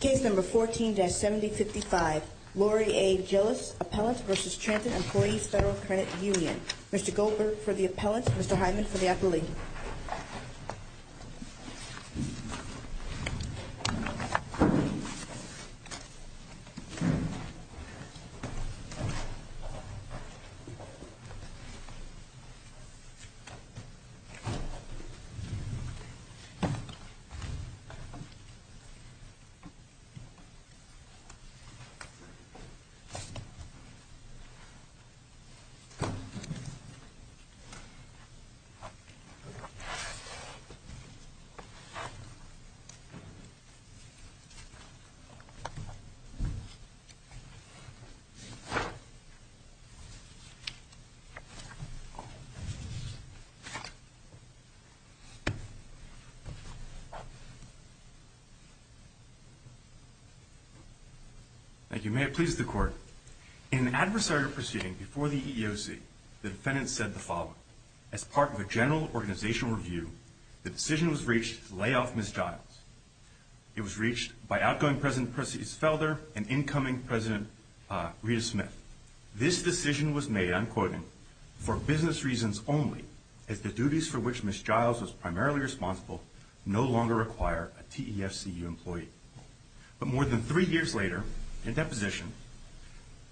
Case number 14-7055, Lorie A. Giles, Appellant v. Transit Employees Federal Credit Union. Mr. Goldberg for the Appellant, Mr. Hyman for the Appellee. Thank you. May it please the Court. In an adversary proceeding before the EEOC, the defendant said the following. As part of a general organizational review, the decision was reached to lay off Ms. Giles. It was reached by outgoing President Perseus Felder and incoming President Rita Smith. This decision was made, I'm quoting, for business reasons only, as the duties for which Ms. Giles was primarily responsible no longer require a TEFCU employee. But more than three years later, in deposition,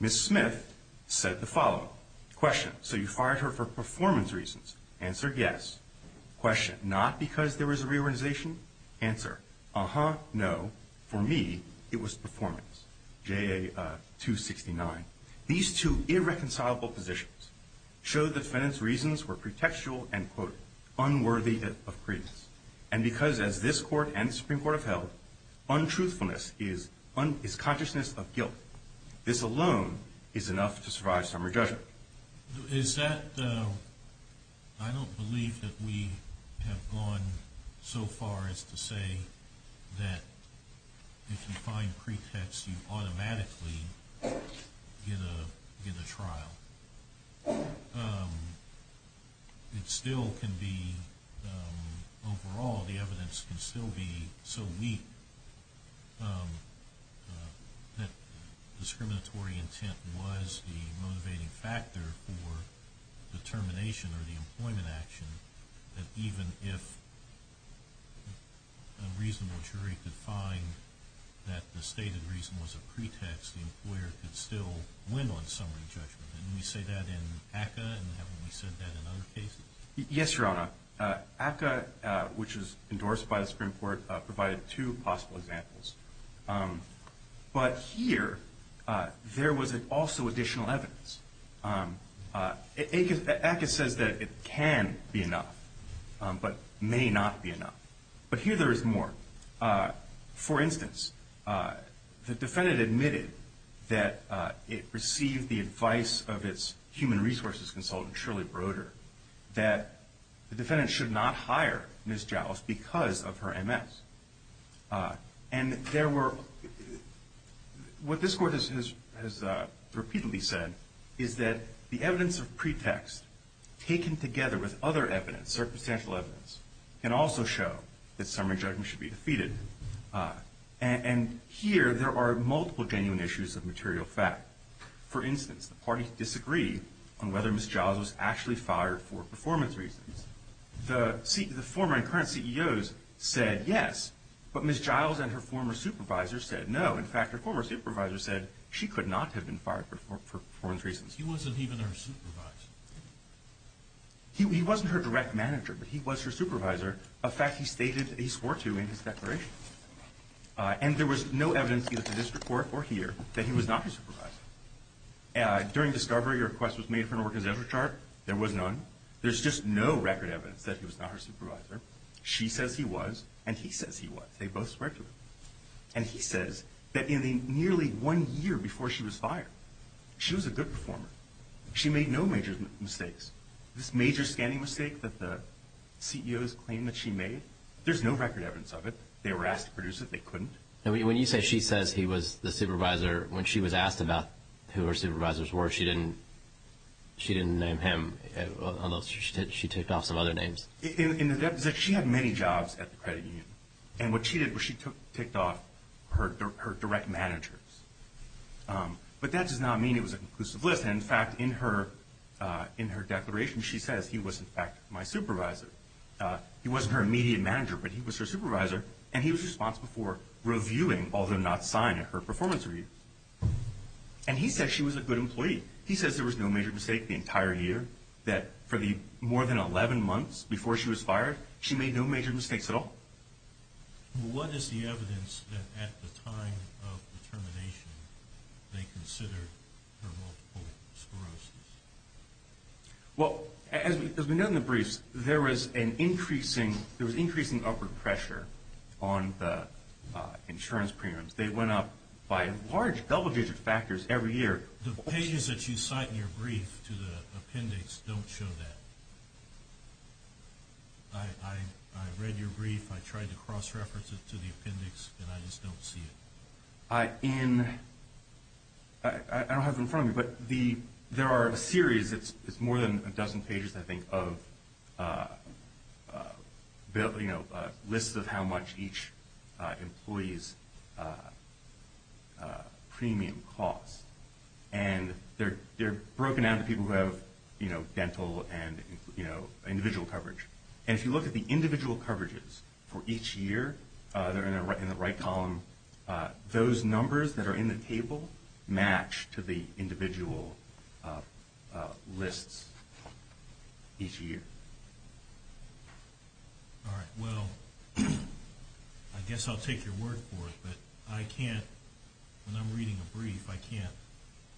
Ms. Smith said the following. Question, so you fired her for performance reasons? Answer, yes. Question, not because there was a reorganization? Answer, uh-huh, no. For me, it was performance, J.A. 269. These two irreconcilable positions show the defendant's reasons were pretextual and, quote, unworthy of credence. And because, as this Court and the Supreme Court have held, untruthfulness is consciousness of guilt. This alone is enough to survive summary judgment. Is that, I don't believe that we have gone so far as to say that if you find pretext, you automatically get a trial. It still can be, overall, the evidence can still be so weak that discriminatory intent was the motivating factor for the termination or the employment action that even if a reasonable jury could find that the stated reason was a pretext, the employer could still win on summary judgment. Didn't we say that in ACCA and haven't we said that in other cases? Yes, Your Honor. ACCA, which was endorsed by the Supreme Court, provided two possible examples. But here, there was also additional evidence. ACCA says that it can be enough, but may not be enough. But here, there is more. For instance, the defendant admitted that it received the advice of its human resources consultant, Shirley Broder, that the defendant should not hire Ms. Jowles because of her MS. And what this Court has repeatedly said is that the evidence of pretext, taken together with other evidence, circumstantial evidence, can also show that summary judgment should be defeated. And here, there are multiple genuine issues of material fact. For instance, the parties disagree on whether Ms. Jowles was actually fired for performance reasons. The former and current CEOs said yes, but Ms. Jowles and her former supervisor said no. In fact, her former supervisor said she could not have been fired for performance reasons. He wasn't even her supervisor. He wasn't her direct manager, but he was her supervisor, a fact he stated that he swore to in his declaration. And there was no evidence, either to this Court or here, that he was not her supervisor. During discovery, a request was made for an organizational chart. There was none. There's just no record evidence that he was not her supervisor. She says he was, and he says he was. They both swore to him. And he says that in the nearly one year before she was fired, she was a good performer. She made no major mistakes. This major scanning mistake that the CEOs claimed that she made, there's no record evidence of it. They were asked to produce it. They couldn't. When you say she says he was the supervisor, when she was asked about who her supervisors were, she didn't name him, although she ticked off some other names. She had many jobs at the credit union. And what she did was she ticked off her direct managers. But that does not mean it was a conclusive list. In fact, in her declaration, she says he was, in fact, my supervisor. He wasn't her immediate manager, but he was her supervisor. And he was responsible for reviewing, although not signing, her performance reviews. And he said she was a good employee. He says there was no major mistake the entire year, that for the more than 11 months before she was fired, she made no major mistakes at all. What is the evidence that at the time of the termination they considered her multiple sclerosis? Well, as we know in the briefs, there was increasing upward pressure on the insurance premiums. They went up by large double-digit factors every year. The pages that you cite in your brief to the appendix don't show that. I read your brief. I tried to cross-reference it to the appendix, and I just don't see it. I don't have it in front of me, but there are a series. It's more than a dozen pages, I think, of lists of how much each employee's premium costs. And they're broken down to people who have dental and individual coverage. And if you look at the individual coverages for each year, they're in the right column. Those numbers that are in the table match to the individual lists each year. All right. Well, I guess I'll take your word for it, but I can't, when I'm reading a brief, I can't,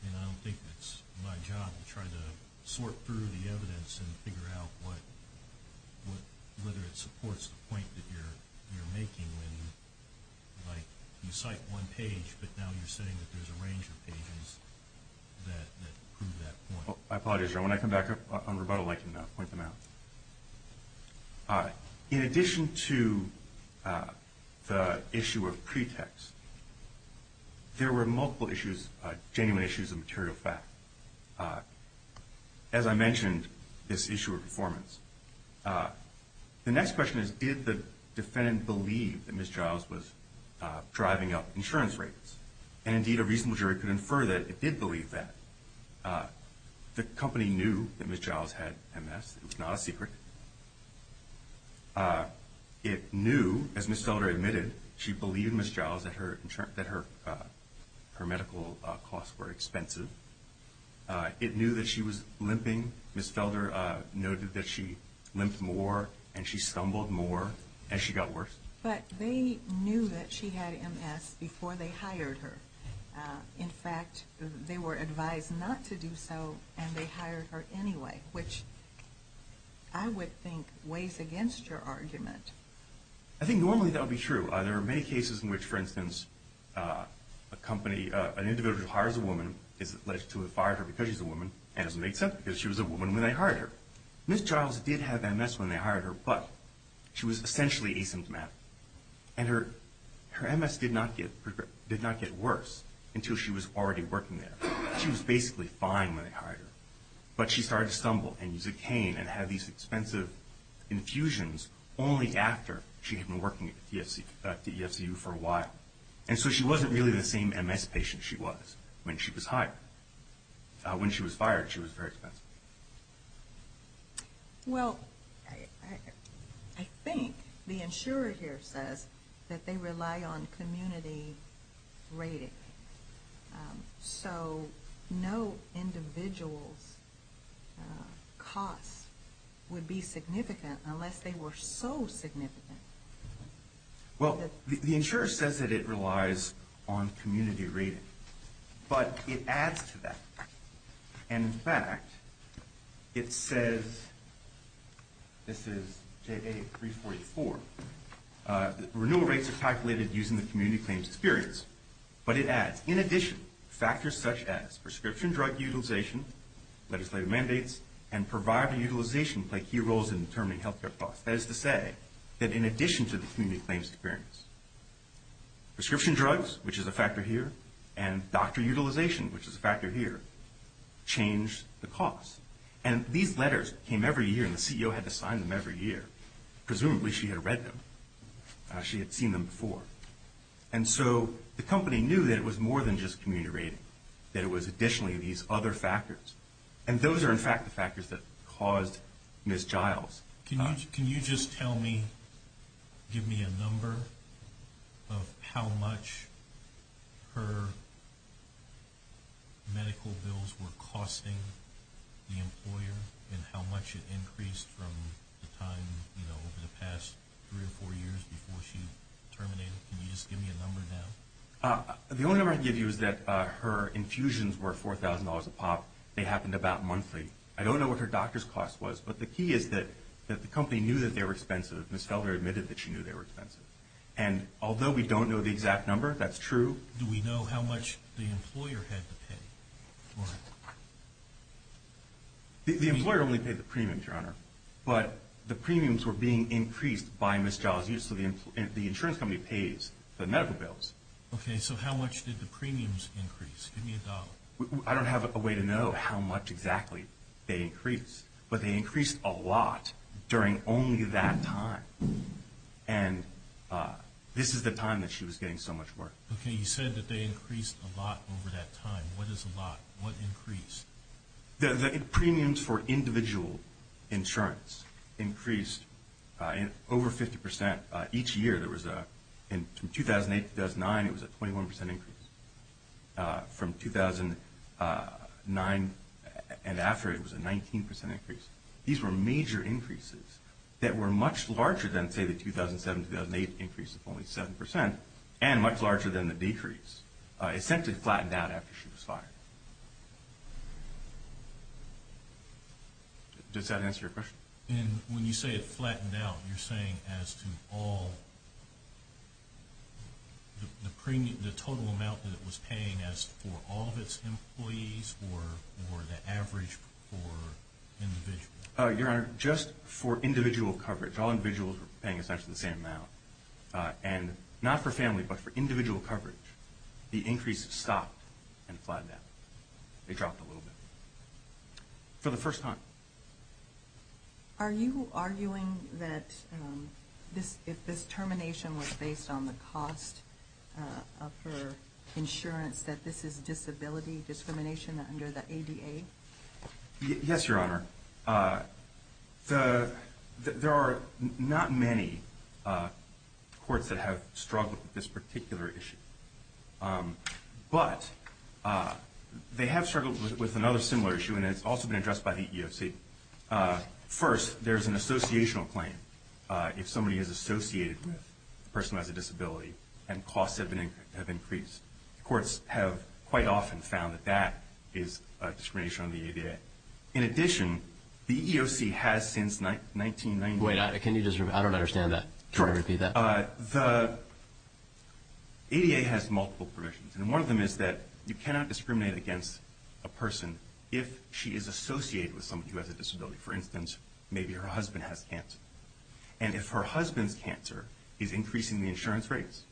and I don't think it's my job to try to sort through the evidence and figure out whether it supports the point that you're making when you cite one page, but now you're saying that there's a range of pages that prove that point. I apologize. When I come back on rebuttal, I can point them out. In addition to the issue of pretext, there were multiple issues, genuine issues of material fact. As I mentioned, this issue of performance. The next question is, did the defendant believe that Ms. Giles was driving up insurance rates? And indeed, a reasonable jury could infer that it did believe that. The company knew that Ms. Giles had MS. It was not a secret. It knew, as Ms. Felder admitted, she believed Ms. Giles that her medical costs were expensive. It knew that she was limping. Ms. Felder noted that she limped more, and she stumbled more, and she got worse. But they knew that she had MS before they hired her. In fact, they were advised not to do so, and they hired her anyway, which I would think weighs against your argument. I think normally that would be true. There are many cases in which, for instance, an individual who hires a woman is alleged to have fired her because she's a woman, and it doesn't make sense because she was a woman when they hired her. Ms. Giles did have MS when they hired her, but she was essentially asymptomatic. And her MS did not get worse until she was already working there. She was basically fine when they hired her. But she started to stumble and use a cane and have these expensive infusions only after she had been working at the EFCU for a while. And so she wasn't really the same MS patient she was when she was hired. When she was fired, she was very expensive. Well, I think the insurer here says that they rely on community rating. So no individual's cost would be significant unless they were so significant. Well, the insurer says that it relies on community rating, but it adds to that. And in fact, it says, this is JA 344, renewal rates are calculated using the community claims experience. But it adds, in addition, factors such as prescription drug utilization, legislative mandates, and provider utilization play key roles in determining health care costs. That is to say that in addition to the community claims experience, prescription drugs, which is a factor here, and doctor utilization, which is a factor here, change the cost. And these letters came every year, and the CEO had to sign them every year. Presumably she had read them. She had seen them before. And so the company knew that it was more than just community rating, that it was additionally these other factors. And those are, in fact, the factors that caused Ms. Giles. Can you just tell me, give me a number of how much her medical bills were costing the employer and how much it increased from the time, you know, over the past three or four years before she terminated? Can you just give me a number now? The only number I can give you is that her infusions were $4,000 a pop. They happened about monthly. I don't know what her doctor's cost was, but the key is that the company knew that they were expensive. Ms. Felder admitted that she knew they were expensive. And although we don't know the exact number, that's true. Do we know how much the employer had to pay for it? The employer only paid the premiums, Your Honor. But the premiums were being increased by Ms. Giles. The insurance company pays the medical bills. Okay. So how much did the premiums increase? Give me a dollar. I don't have a way to know how much exactly they increased, but they increased a lot during only that time. And this is the time that she was getting so much work. Okay. You said that they increased a lot over that time. What is a lot? What increased? The premiums for individual insurance increased over 50%. Each year, from 2008 to 2009, it was a 21% increase. From 2009 and after, it was a 19% increase. These were major increases that were much larger than, say, the 2007-2008 increase of only 7%, and much larger than the decrease. It essentially flattened out after she was fired. Does that answer your question? And when you say it flattened out, you're saying as to all the premium, the total amount that it was paying as for all of its employees or the average for individuals? Your Honor, just for individual coverage, all individuals were paying essentially the same amount. And not for family, but for individual coverage, the increase stopped and flattened out. It dropped a little bit. For the first time. Are you arguing that if this termination was based on the cost of her insurance, that this is disability discrimination under the ADA? Yes, Your Honor. There are not many courts that have struggled with this particular issue. But they have struggled with another similar issue, and it's also been addressed by the EEOC. First, there's an associational claim if somebody is associated with a person who has a disability and costs have increased. The courts have quite often found that that is a discrimination under the ADA. In addition, the EEOC has since 1990. Wait, I don't understand that. Can you repeat that? The ADA has multiple provisions, and one of them is that you cannot discriminate against a person if she is associated with someone who has a disability. For instance, maybe her husband has cancer. And if her husband's cancer is increasing the insurance rates,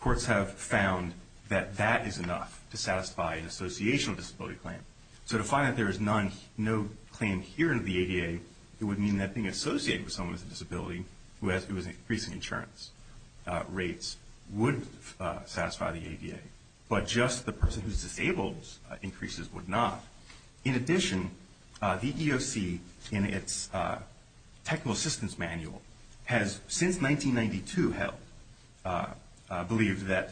courts have found that that is enough to satisfy an associational disability claim. So to find that there is no claim here under the ADA, it would mean that being associated with someone with a disability who is increasing insurance rates would satisfy the ADA. But just the person who is disabled's increases would not. In addition, the EEOC, in its technical assistance manual, has since 1992 believed that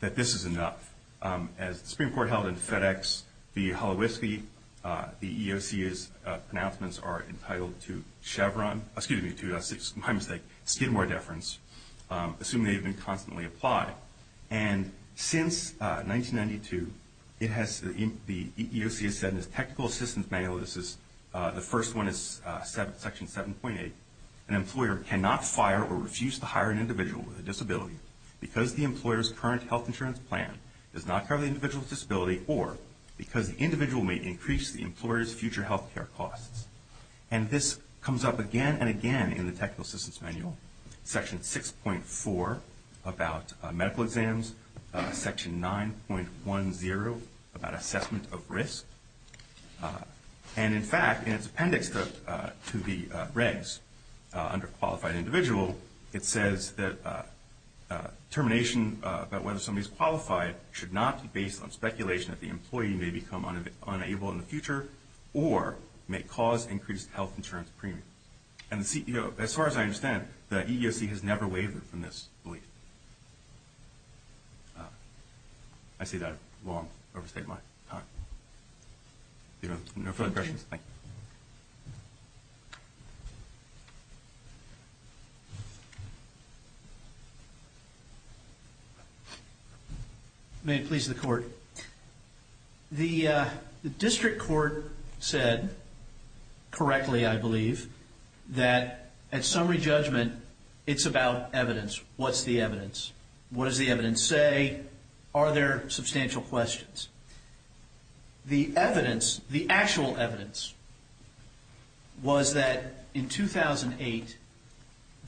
this is enough. As the Supreme Court held in FedEx v. Hullo Whiskey, the EEOC's pronouncements are entitled to Chevron. Excuse me, to, my mistake, Skidmore deference, assuming they have been constantly applied. And since 1992, the EEOC has said in its technical assistance manual, this is, the first one is section 7.8, an employer cannot fire or refuse to hire an individual with a disability because the employer's current health insurance plan does not cover the individual's disability or because the individual may increase the employer's future health care costs. And this comes up again and again in the technical assistance manual, section 6.4 about medical exams, section 9.10 about assessment of risk. And in fact, in its appendix to the regs, under qualified individual, it says that determination about whether somebody is qualified should not be based on speculation that the employee may become unable in the future or may cause increased health insurance premium. And as far as I understand, the EEOC has never wavered from this belief. I say that while I'm overstating my time. No further questions? May it please the Court. The district court said correctly, I believe, that at summary judgment, it's about evidence. What's the evidence? What does the evidence say? Are there substantial questions? The evidence, the actual evidence, was that in 2008,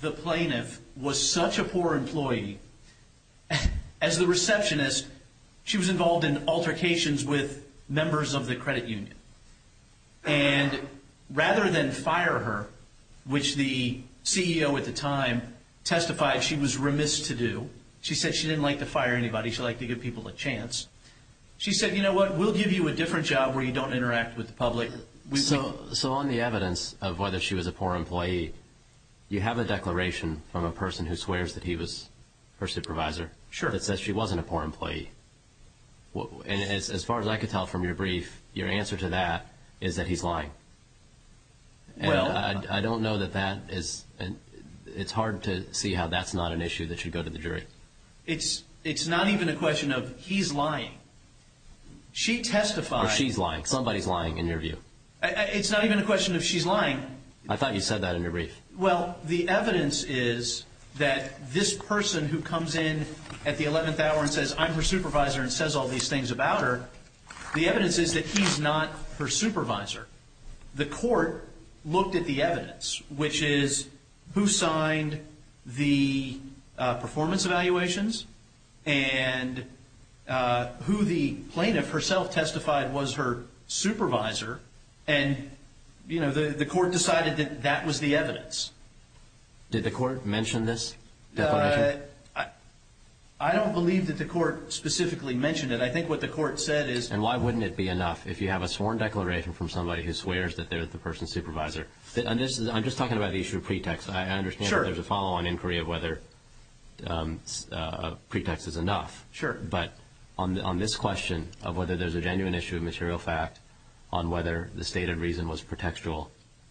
the plaintiff was such a poor employee, as the receptionist, she was involved in altercations with members of the credit union. And rather than fire her, which the CEO at the time testified she was remiss to do, she said she didn't like to fire anybody. She liked to give people a chance. She said, you know what, we'll give you a different job where you don't interact with the public. So on the evidence of whether she was a poor employee, you have a declaration from a person who swears that he was her supervisor. Sure. That says she wasn't a poor employee. And as far as I could tell from your brief, your answer to that is that he's lying. And I don't know that that is, it's hard to see how that's not an issue that should go to the jury. It's not even a question of he's lying. She testified. She's lying. Somebody's lying in your view. It's not even a question of she's lying. I thought you said that in your brief. Well, the evidence is that this person who comes in at the 11th hour and says, I'm her supervisor and says all these things about her, the evidence is that he's not her supervisor. The court looked at the evidence, which is who signed the performance evaluations and who the plaintiff herself testified was her supervisor, and, you know, the court decided that that was the evidence. Did the court mention this definition? I don't believe that the court specifically mentioned it. I think what the court said is— And why wouldn't it be enough if you have a sworn declaration from somebody who swears that they're the person's supervisor? I'm just talking about the issue of pretext. I understand that there's a follow-on inquiry of whether a pretext is enough. Sure. But on this question of whether there's a genuine issue of material fact on whether the stated reason was pretextual,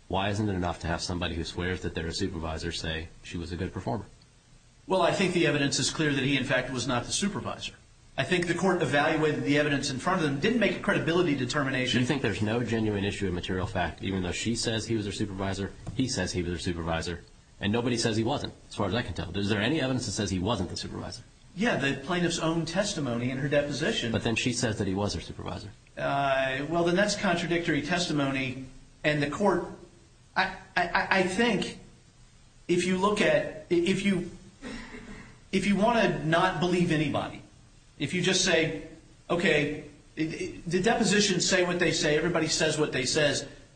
why isn't it enough to have somebody who swears that they're a supervisor say she was a good performer? Well, I think the evidence is clear that he, in fact, was not the supervisor. I think the court evaluated the evidence in front of them, didn't make a credibility determination. Do you think there's no genuine issue of material fact, even though she says he was her supervisor, he says he was her supervisor, and nobody says he wasn't, as far as I can tell? Is there any evidence that says he wasn't the supervisor? Yeah, the plaintiff's own testimony in her deposition. But then she says that he was her supervisor. Well, then that's contradictory testimony, and the court— I think if you look at—if you want to not believe anybody, if you just say, okay, the depositions say what they say, everybody says what they say,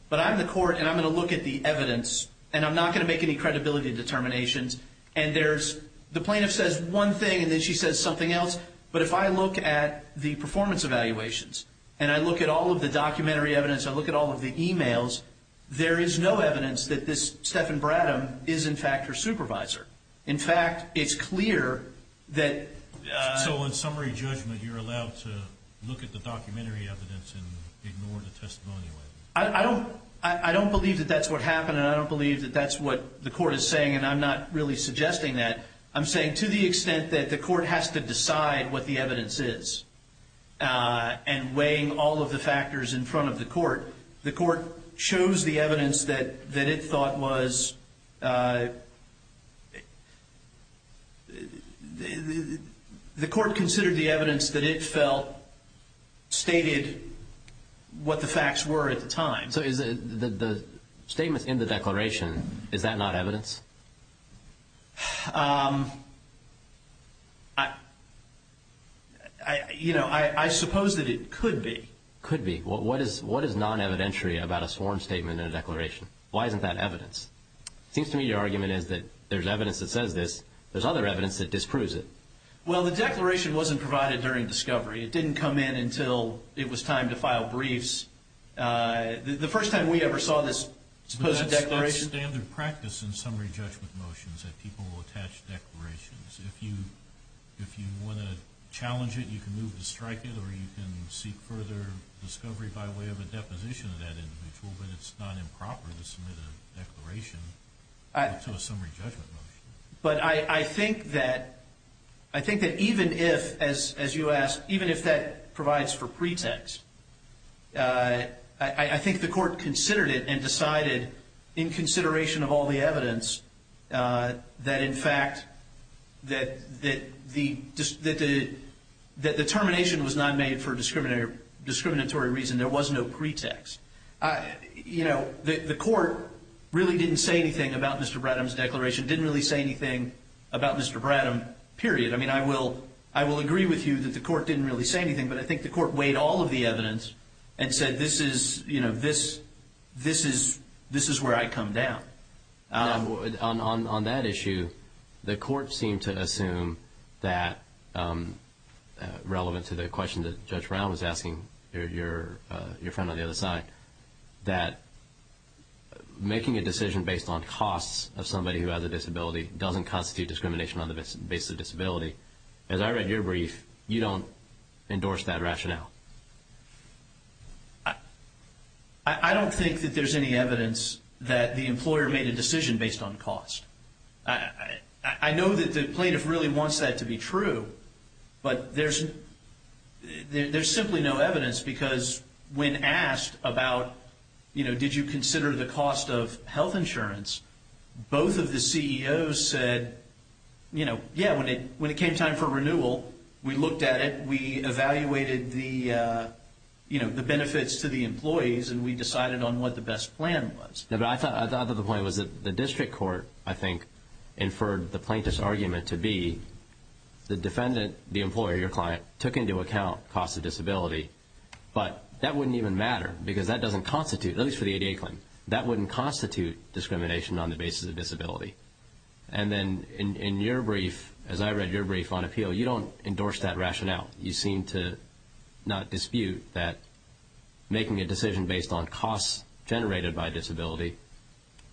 but I'm the court, and I'm going to look at the evidence, and I'm not going to make any credibility determinations, and there's—the plaintiff says one thing, and then she says something else. But if I look at the performance evaluations, and I look at all of the documentary evidence, I look at all of the e-mails, there is no evidence that this Stephen Bradham is, in fact, her supervisor. In fact, it's clear that— So in summary judgment, you're allowed to look at the documentary evidence and ignore the testimonial evidence? I don't believe that that's what happened, and I don't believe that that's what the court is saying, and I'm not really suggesting that. I'm saying to the extent that the court has to decide what the evidence is and weighing all of the factors in front of the court, the court chose the evidence that it thought was— the court considered the evidence that it felt stated what the facts were at the time. So the statements in the declaration, is that not evidence? I—you know, I suppose that it could be. Could be. What is non-evidentiary about a sworn statement in a declaration? Why isn't that evidence? It seems to me your argument is that there's evidence that says this. There's other evidence that disproves it. Well, the declaration wasn't provided during discovery. It didn't come in until it was time to file briefs. The first time we ever saw this supposed declaration— It's standard practice in summary judgment motions that people will attach declarations. If you want to challenge it, you can move to strike it, or you can seek further discovery by way of a deposition of that individual, but it's not improper to submit a declaration to a summary judgment motion. But I think that even if, as you asked, even if that provides for pretext, I think the court considered it and decided, in consideration of all the evidence, that in fact, that the termination was not made for discriminatory reason. There was no pretext. You know, the court really didn't say anything about Mr. Bradham's declaration, didn't really say anything about Mr. Bradham, period. I mean, I will agree with you that the court didn't really say anything, but I think the court weighed all of the evidence and said, this is where I come down. On that issue, the court seemed to assume that, relevant to the question that Judge Brown was asking your friend on the other side, that making a decision based on costs of somebody who has a disability doesn't constitute discrimination on the basis of disability. As I read your brief, you don't endorse that rationale. I don't think that there's any evidence that the employer made a decision based on cost. I know that the plaintiff really wants that to be true, but there's simply no evidence because when asked about, you know, did you consider the cost of health insurance, both of the CEOs said, you know, yeah, when it came time for renewal, we looked at it, we evaluated the, you know, the benefits to the employees and we decided on what the best plan was. I thought that the point was that the district court, I think, inferred the plaintiff's argument to be the defendant, the employer, your client, took into account cost of disability, but that wouldn't even matter because that doesn't constitute, at least for the ADA claim, that wouldn't constitute discrimination on the basis of disability. And then in your brief, as I read your brief on appeal, you don't endorse that rationale. You seem to not dispute that making a decision based on costs generated by disability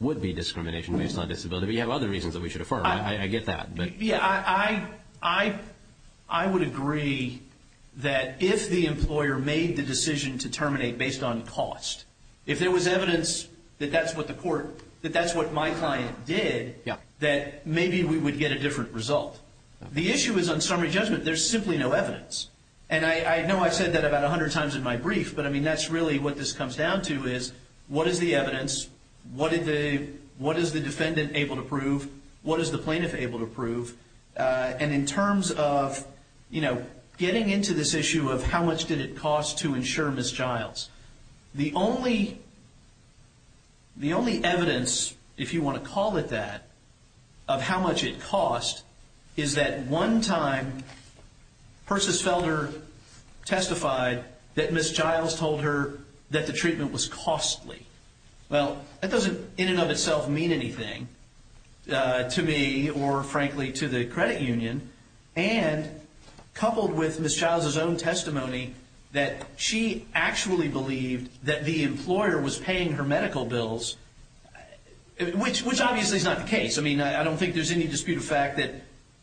would be discrimination based on disability. But you have other reasons that we should affirm, right? I get that. Yeah, I would agree that if the employer made the decision to terminate based on cost, if there was evidence that that's what the court, that that's what my client did, that maybe we would get a different result. The issue is on summary judgment, there's simply no evidence. And I know I've said that about 100 times in my brief, but, I mean, that's really what this comes down to is what is the evidence, what is the defendant able to prove, what is the plaintiff able to prove. And in terms of, you know, getting into this issue of how much did it cost to insure Ms. Childs, the only evidence, if you want to call it that, of how much it cost, is that one time Persis Felder testified that Ms. Childs told her that the treatment was costly. Well, that doesn't in and of itself mean anything to me or, frankly, to the credit union. And coupled with Ms. Childs' own testimony that she actually believed that the employer was paying her medical bills, which obviously is not the case. I mean, I don't think there's any dispute of fact that,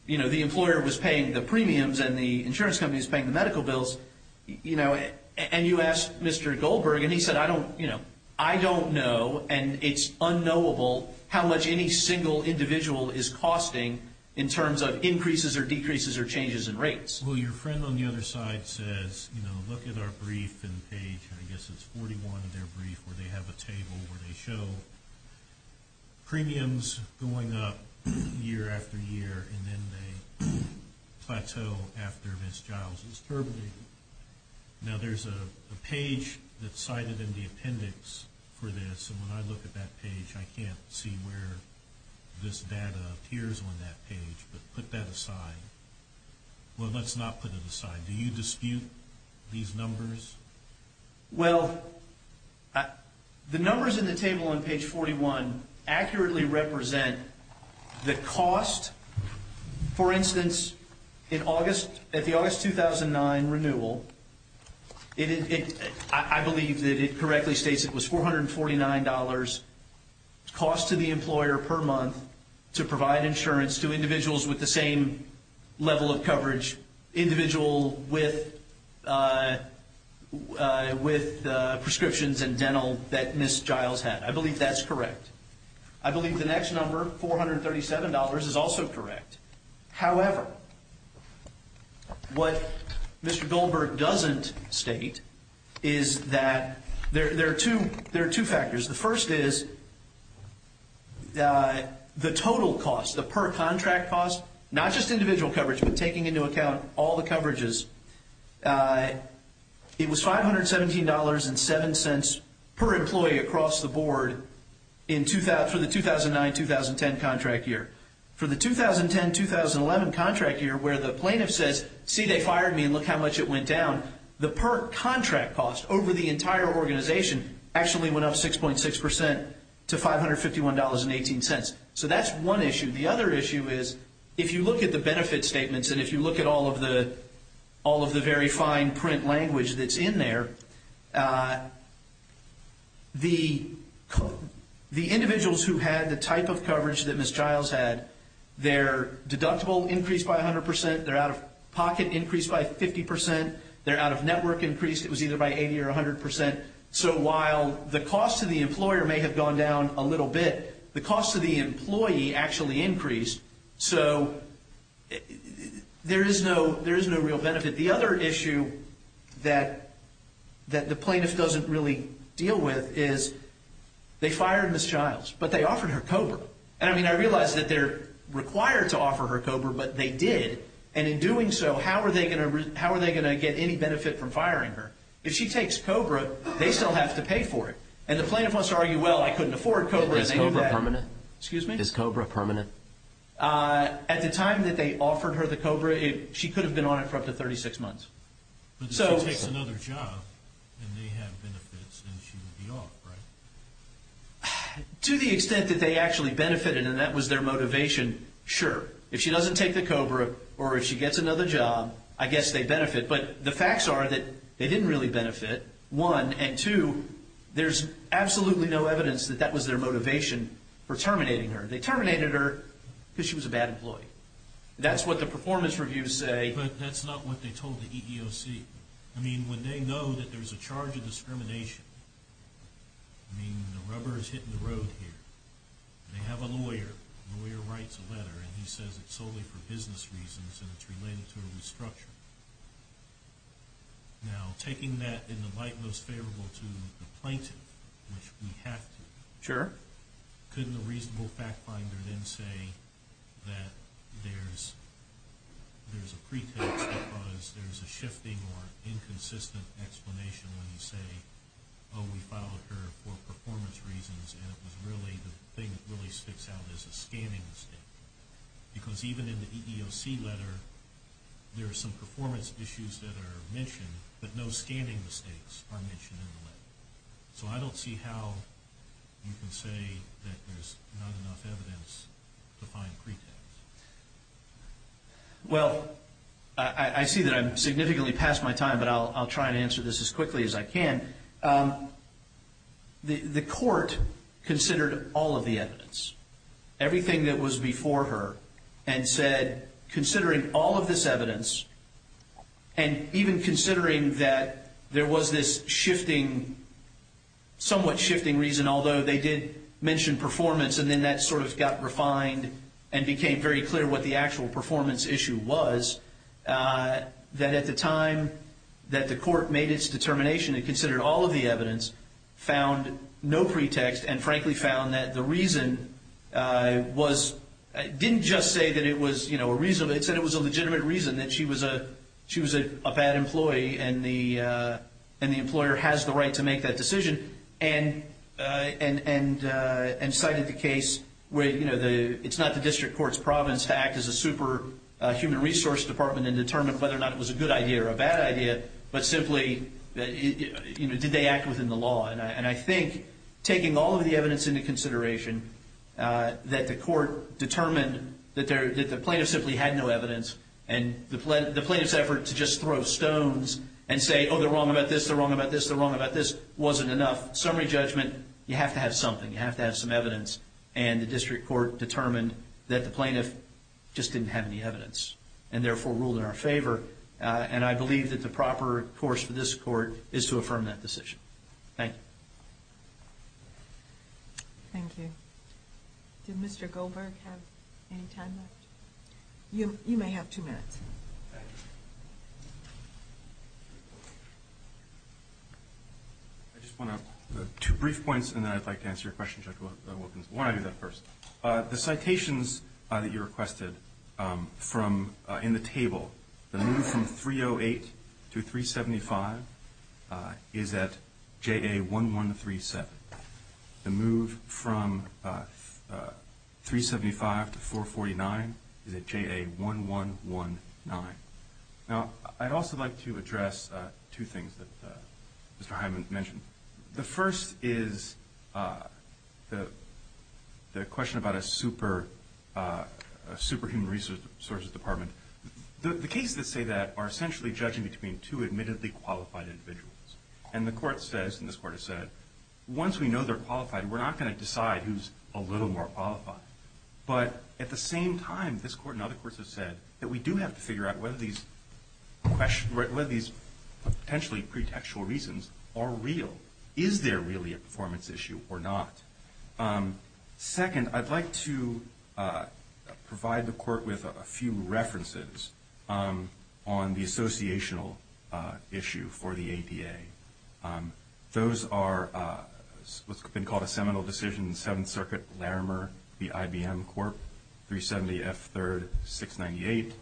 you know, the employer was paying the premiums and the insurance company was paying the medical bills. You know, and you asked Mr. Goldberg, and he said, I don't, you know, I don't know, and it's unknowable, how much any single individual is costing in terms of increases or decreases or changes in rates. Well, your friend on the other side says, you know, look at our brief and page, I guess it's 41 in their brief where they have a table where they show premiums going up year after year and then they plateau after Ms. Childs' term. Now, there's a page that's cited in the appendix for this, and when I look at that page, I can't see where this data appears on that page, but put that aside. Well, let's not put it aside. Do you dispute these numbers? Well, the numbers in the table on page 41 accurately represent the cost. For instance, in August, at the August 2009 renewal, I believe that it correctly states it was $449 cost to the employer per month to provide insurance to individuals with the same level of coverage, individual with prescriptions and dental that Ms. Childs had. I believe that's correct. I believe the next number, $437, is also correct. However, what Mr. Goldberg doesn't state is that there are two factors. The first is the total cost, the per contract cost, not just individual coverage, but taking into account all the coverages. It was $517.07 per employee across the board for the 2009-2010 contract year. For the 2010-2011 contract year where the plaintiff says, see, they fired me and look how much it went down, the per contract cost over the entire organization actually went up 6.6% to $551.18. So that's one issue. The other issue is if you look at the benefit statements and if you look at all of the very fine print language that's in there, the individuals who had the type of coverage that Ms. Childs had, their deductible increased by 100%, their out-of-pocket increased by 50%, their out-of-network increased, it was either by 80% or 100%. So while the cost to the employer may have gone down a little bit, the cost to the employee actually increased. So there is no real benefit. The other issue that the plaintiff doesn't really deal with is they fired Ms. Childs, but they offered her COBRA. And, I mean, I realize that they're required to offer her COBRA, but they did. And in doing so, how are they going to get any benefit from firing her? If she takes COBRA, they still have to pay for it. And the plaintiff wants to argue, well, I couldn't afford COBRA. Is COBRA permanent? Excuse me? Is COBRA permanent? At the time that they offered her the COBRA, she could have been on it for up to 36 months. But she takes another job, and they have benefits, and she would be off, right? To the extent that they actually benefited, and that was their motivation, sure. If she doesn't take the COBRA or if she gets another job, I guess they benefit. But the facts are that they didn't really benefit, one. And, two, there's absolutely no evidence that that was their motivation for terminating her. They terminated her because she was a bad employee. That's what the performance reviews say. But that's not what they told the EEOC. I mean, when they know that there's a charge of discrimination, I mean, the rubber is hitting the road here. They have a lawyer. The lawyer writes a letter, and he says it's solely for business reasons, and it's related to a restructure. Now, taking that in the light most favorable to the plaintiff, which we have to, couldn't the reasonable fact finder then say that there's a pretext because there's a shifting or inconsistent explanation when you say, oh, we filed her for performance reasons, and it was really the thing that really sticks out as a scanning mistake? Because even in the EEOC letter, there are some performance issues that are mentioned, but no scanning mistakes are mentioned in the letter. So I don't see how you can say that there's not enough evidence to find pretext. Well, I see that I've significantly passed my time, but I'll try and answer this as quickly as I can. The court considered all of the evidence. Everything that was before her, and said, considering all of this evidence, and even considering that there was this somewhat shifting reason, although they did mention performance, and then that sort of got refined and became very clear what the actual performance issue was, that at the time that the court made its determination and considered all of the evidence, found no pretext, and frankly found that the reason was didn't just say that it was a reason, but it said it was a legitimate reason that she was a bad employee and the employer has the right to make that decision, and cited the case where it's not the district court's province to act as a super human resource department and determine whether or not it was a good idea or a bad idea, but simply did they act within the law. And I think taking all of the evidence into consideration that the court determined that the plaintiff simply had no evidence and the plaintiff's effort to just throw stones and say, oh, they're wrong about this, they're wrong about this, they're wrong about this, wasn't enough, summary judgment, you have to have something, you have to have some evidence, and the district court determined that the plaintiff just didn't have any evidence and therefore ruled in our favor, and I believe that the proper course for this court is to affirm that decision. Thank you. Thank you. Did Mr. Goldberg have any time left? You may have two minutes. I just want to, two brief points, and then I'd like to answer your question, Judge Wilkins. Why don't I do that first? The citations that you requested in the table, the move from 308 to 375 is at JA1137. The move from 375 to 449 is at JA1119. Now, I'd also like to address two things that Mr. Hyman mentioned. The first is the question about a super human resources department. The cases that say that are essentially judging between two admittedly qualified individuals, and the court says, and this court has said, once we know they're qualified, we're not going to decide who's a little more qualified. But at the same time, this court and other courts have said that we do have to figure out whether these potentially pretextual reasons are real. Is there really a performance issue or not? Second, I'd like to provide the court with a few references on the associational issue for the APA. Those are what's been called a seminal decision in Seventh Circuit, Larimer v. IBM Corp., 370 F. 3rd, 698,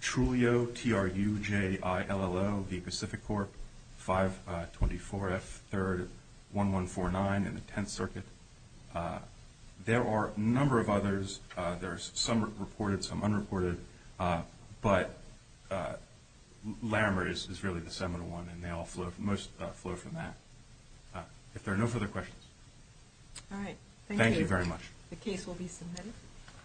Trulio, T-R-U-J-I-L-L-O v. Pacific Corp., 524 F. 3rd, 1149 in the Tenth Circuit. There are a number of others. There are some reported, some unreported, but Larimer is really the seminal one, and they all flow, most flow from that. If there are no further questions. All right. Thank you. Thank you very much. The case will be submitted.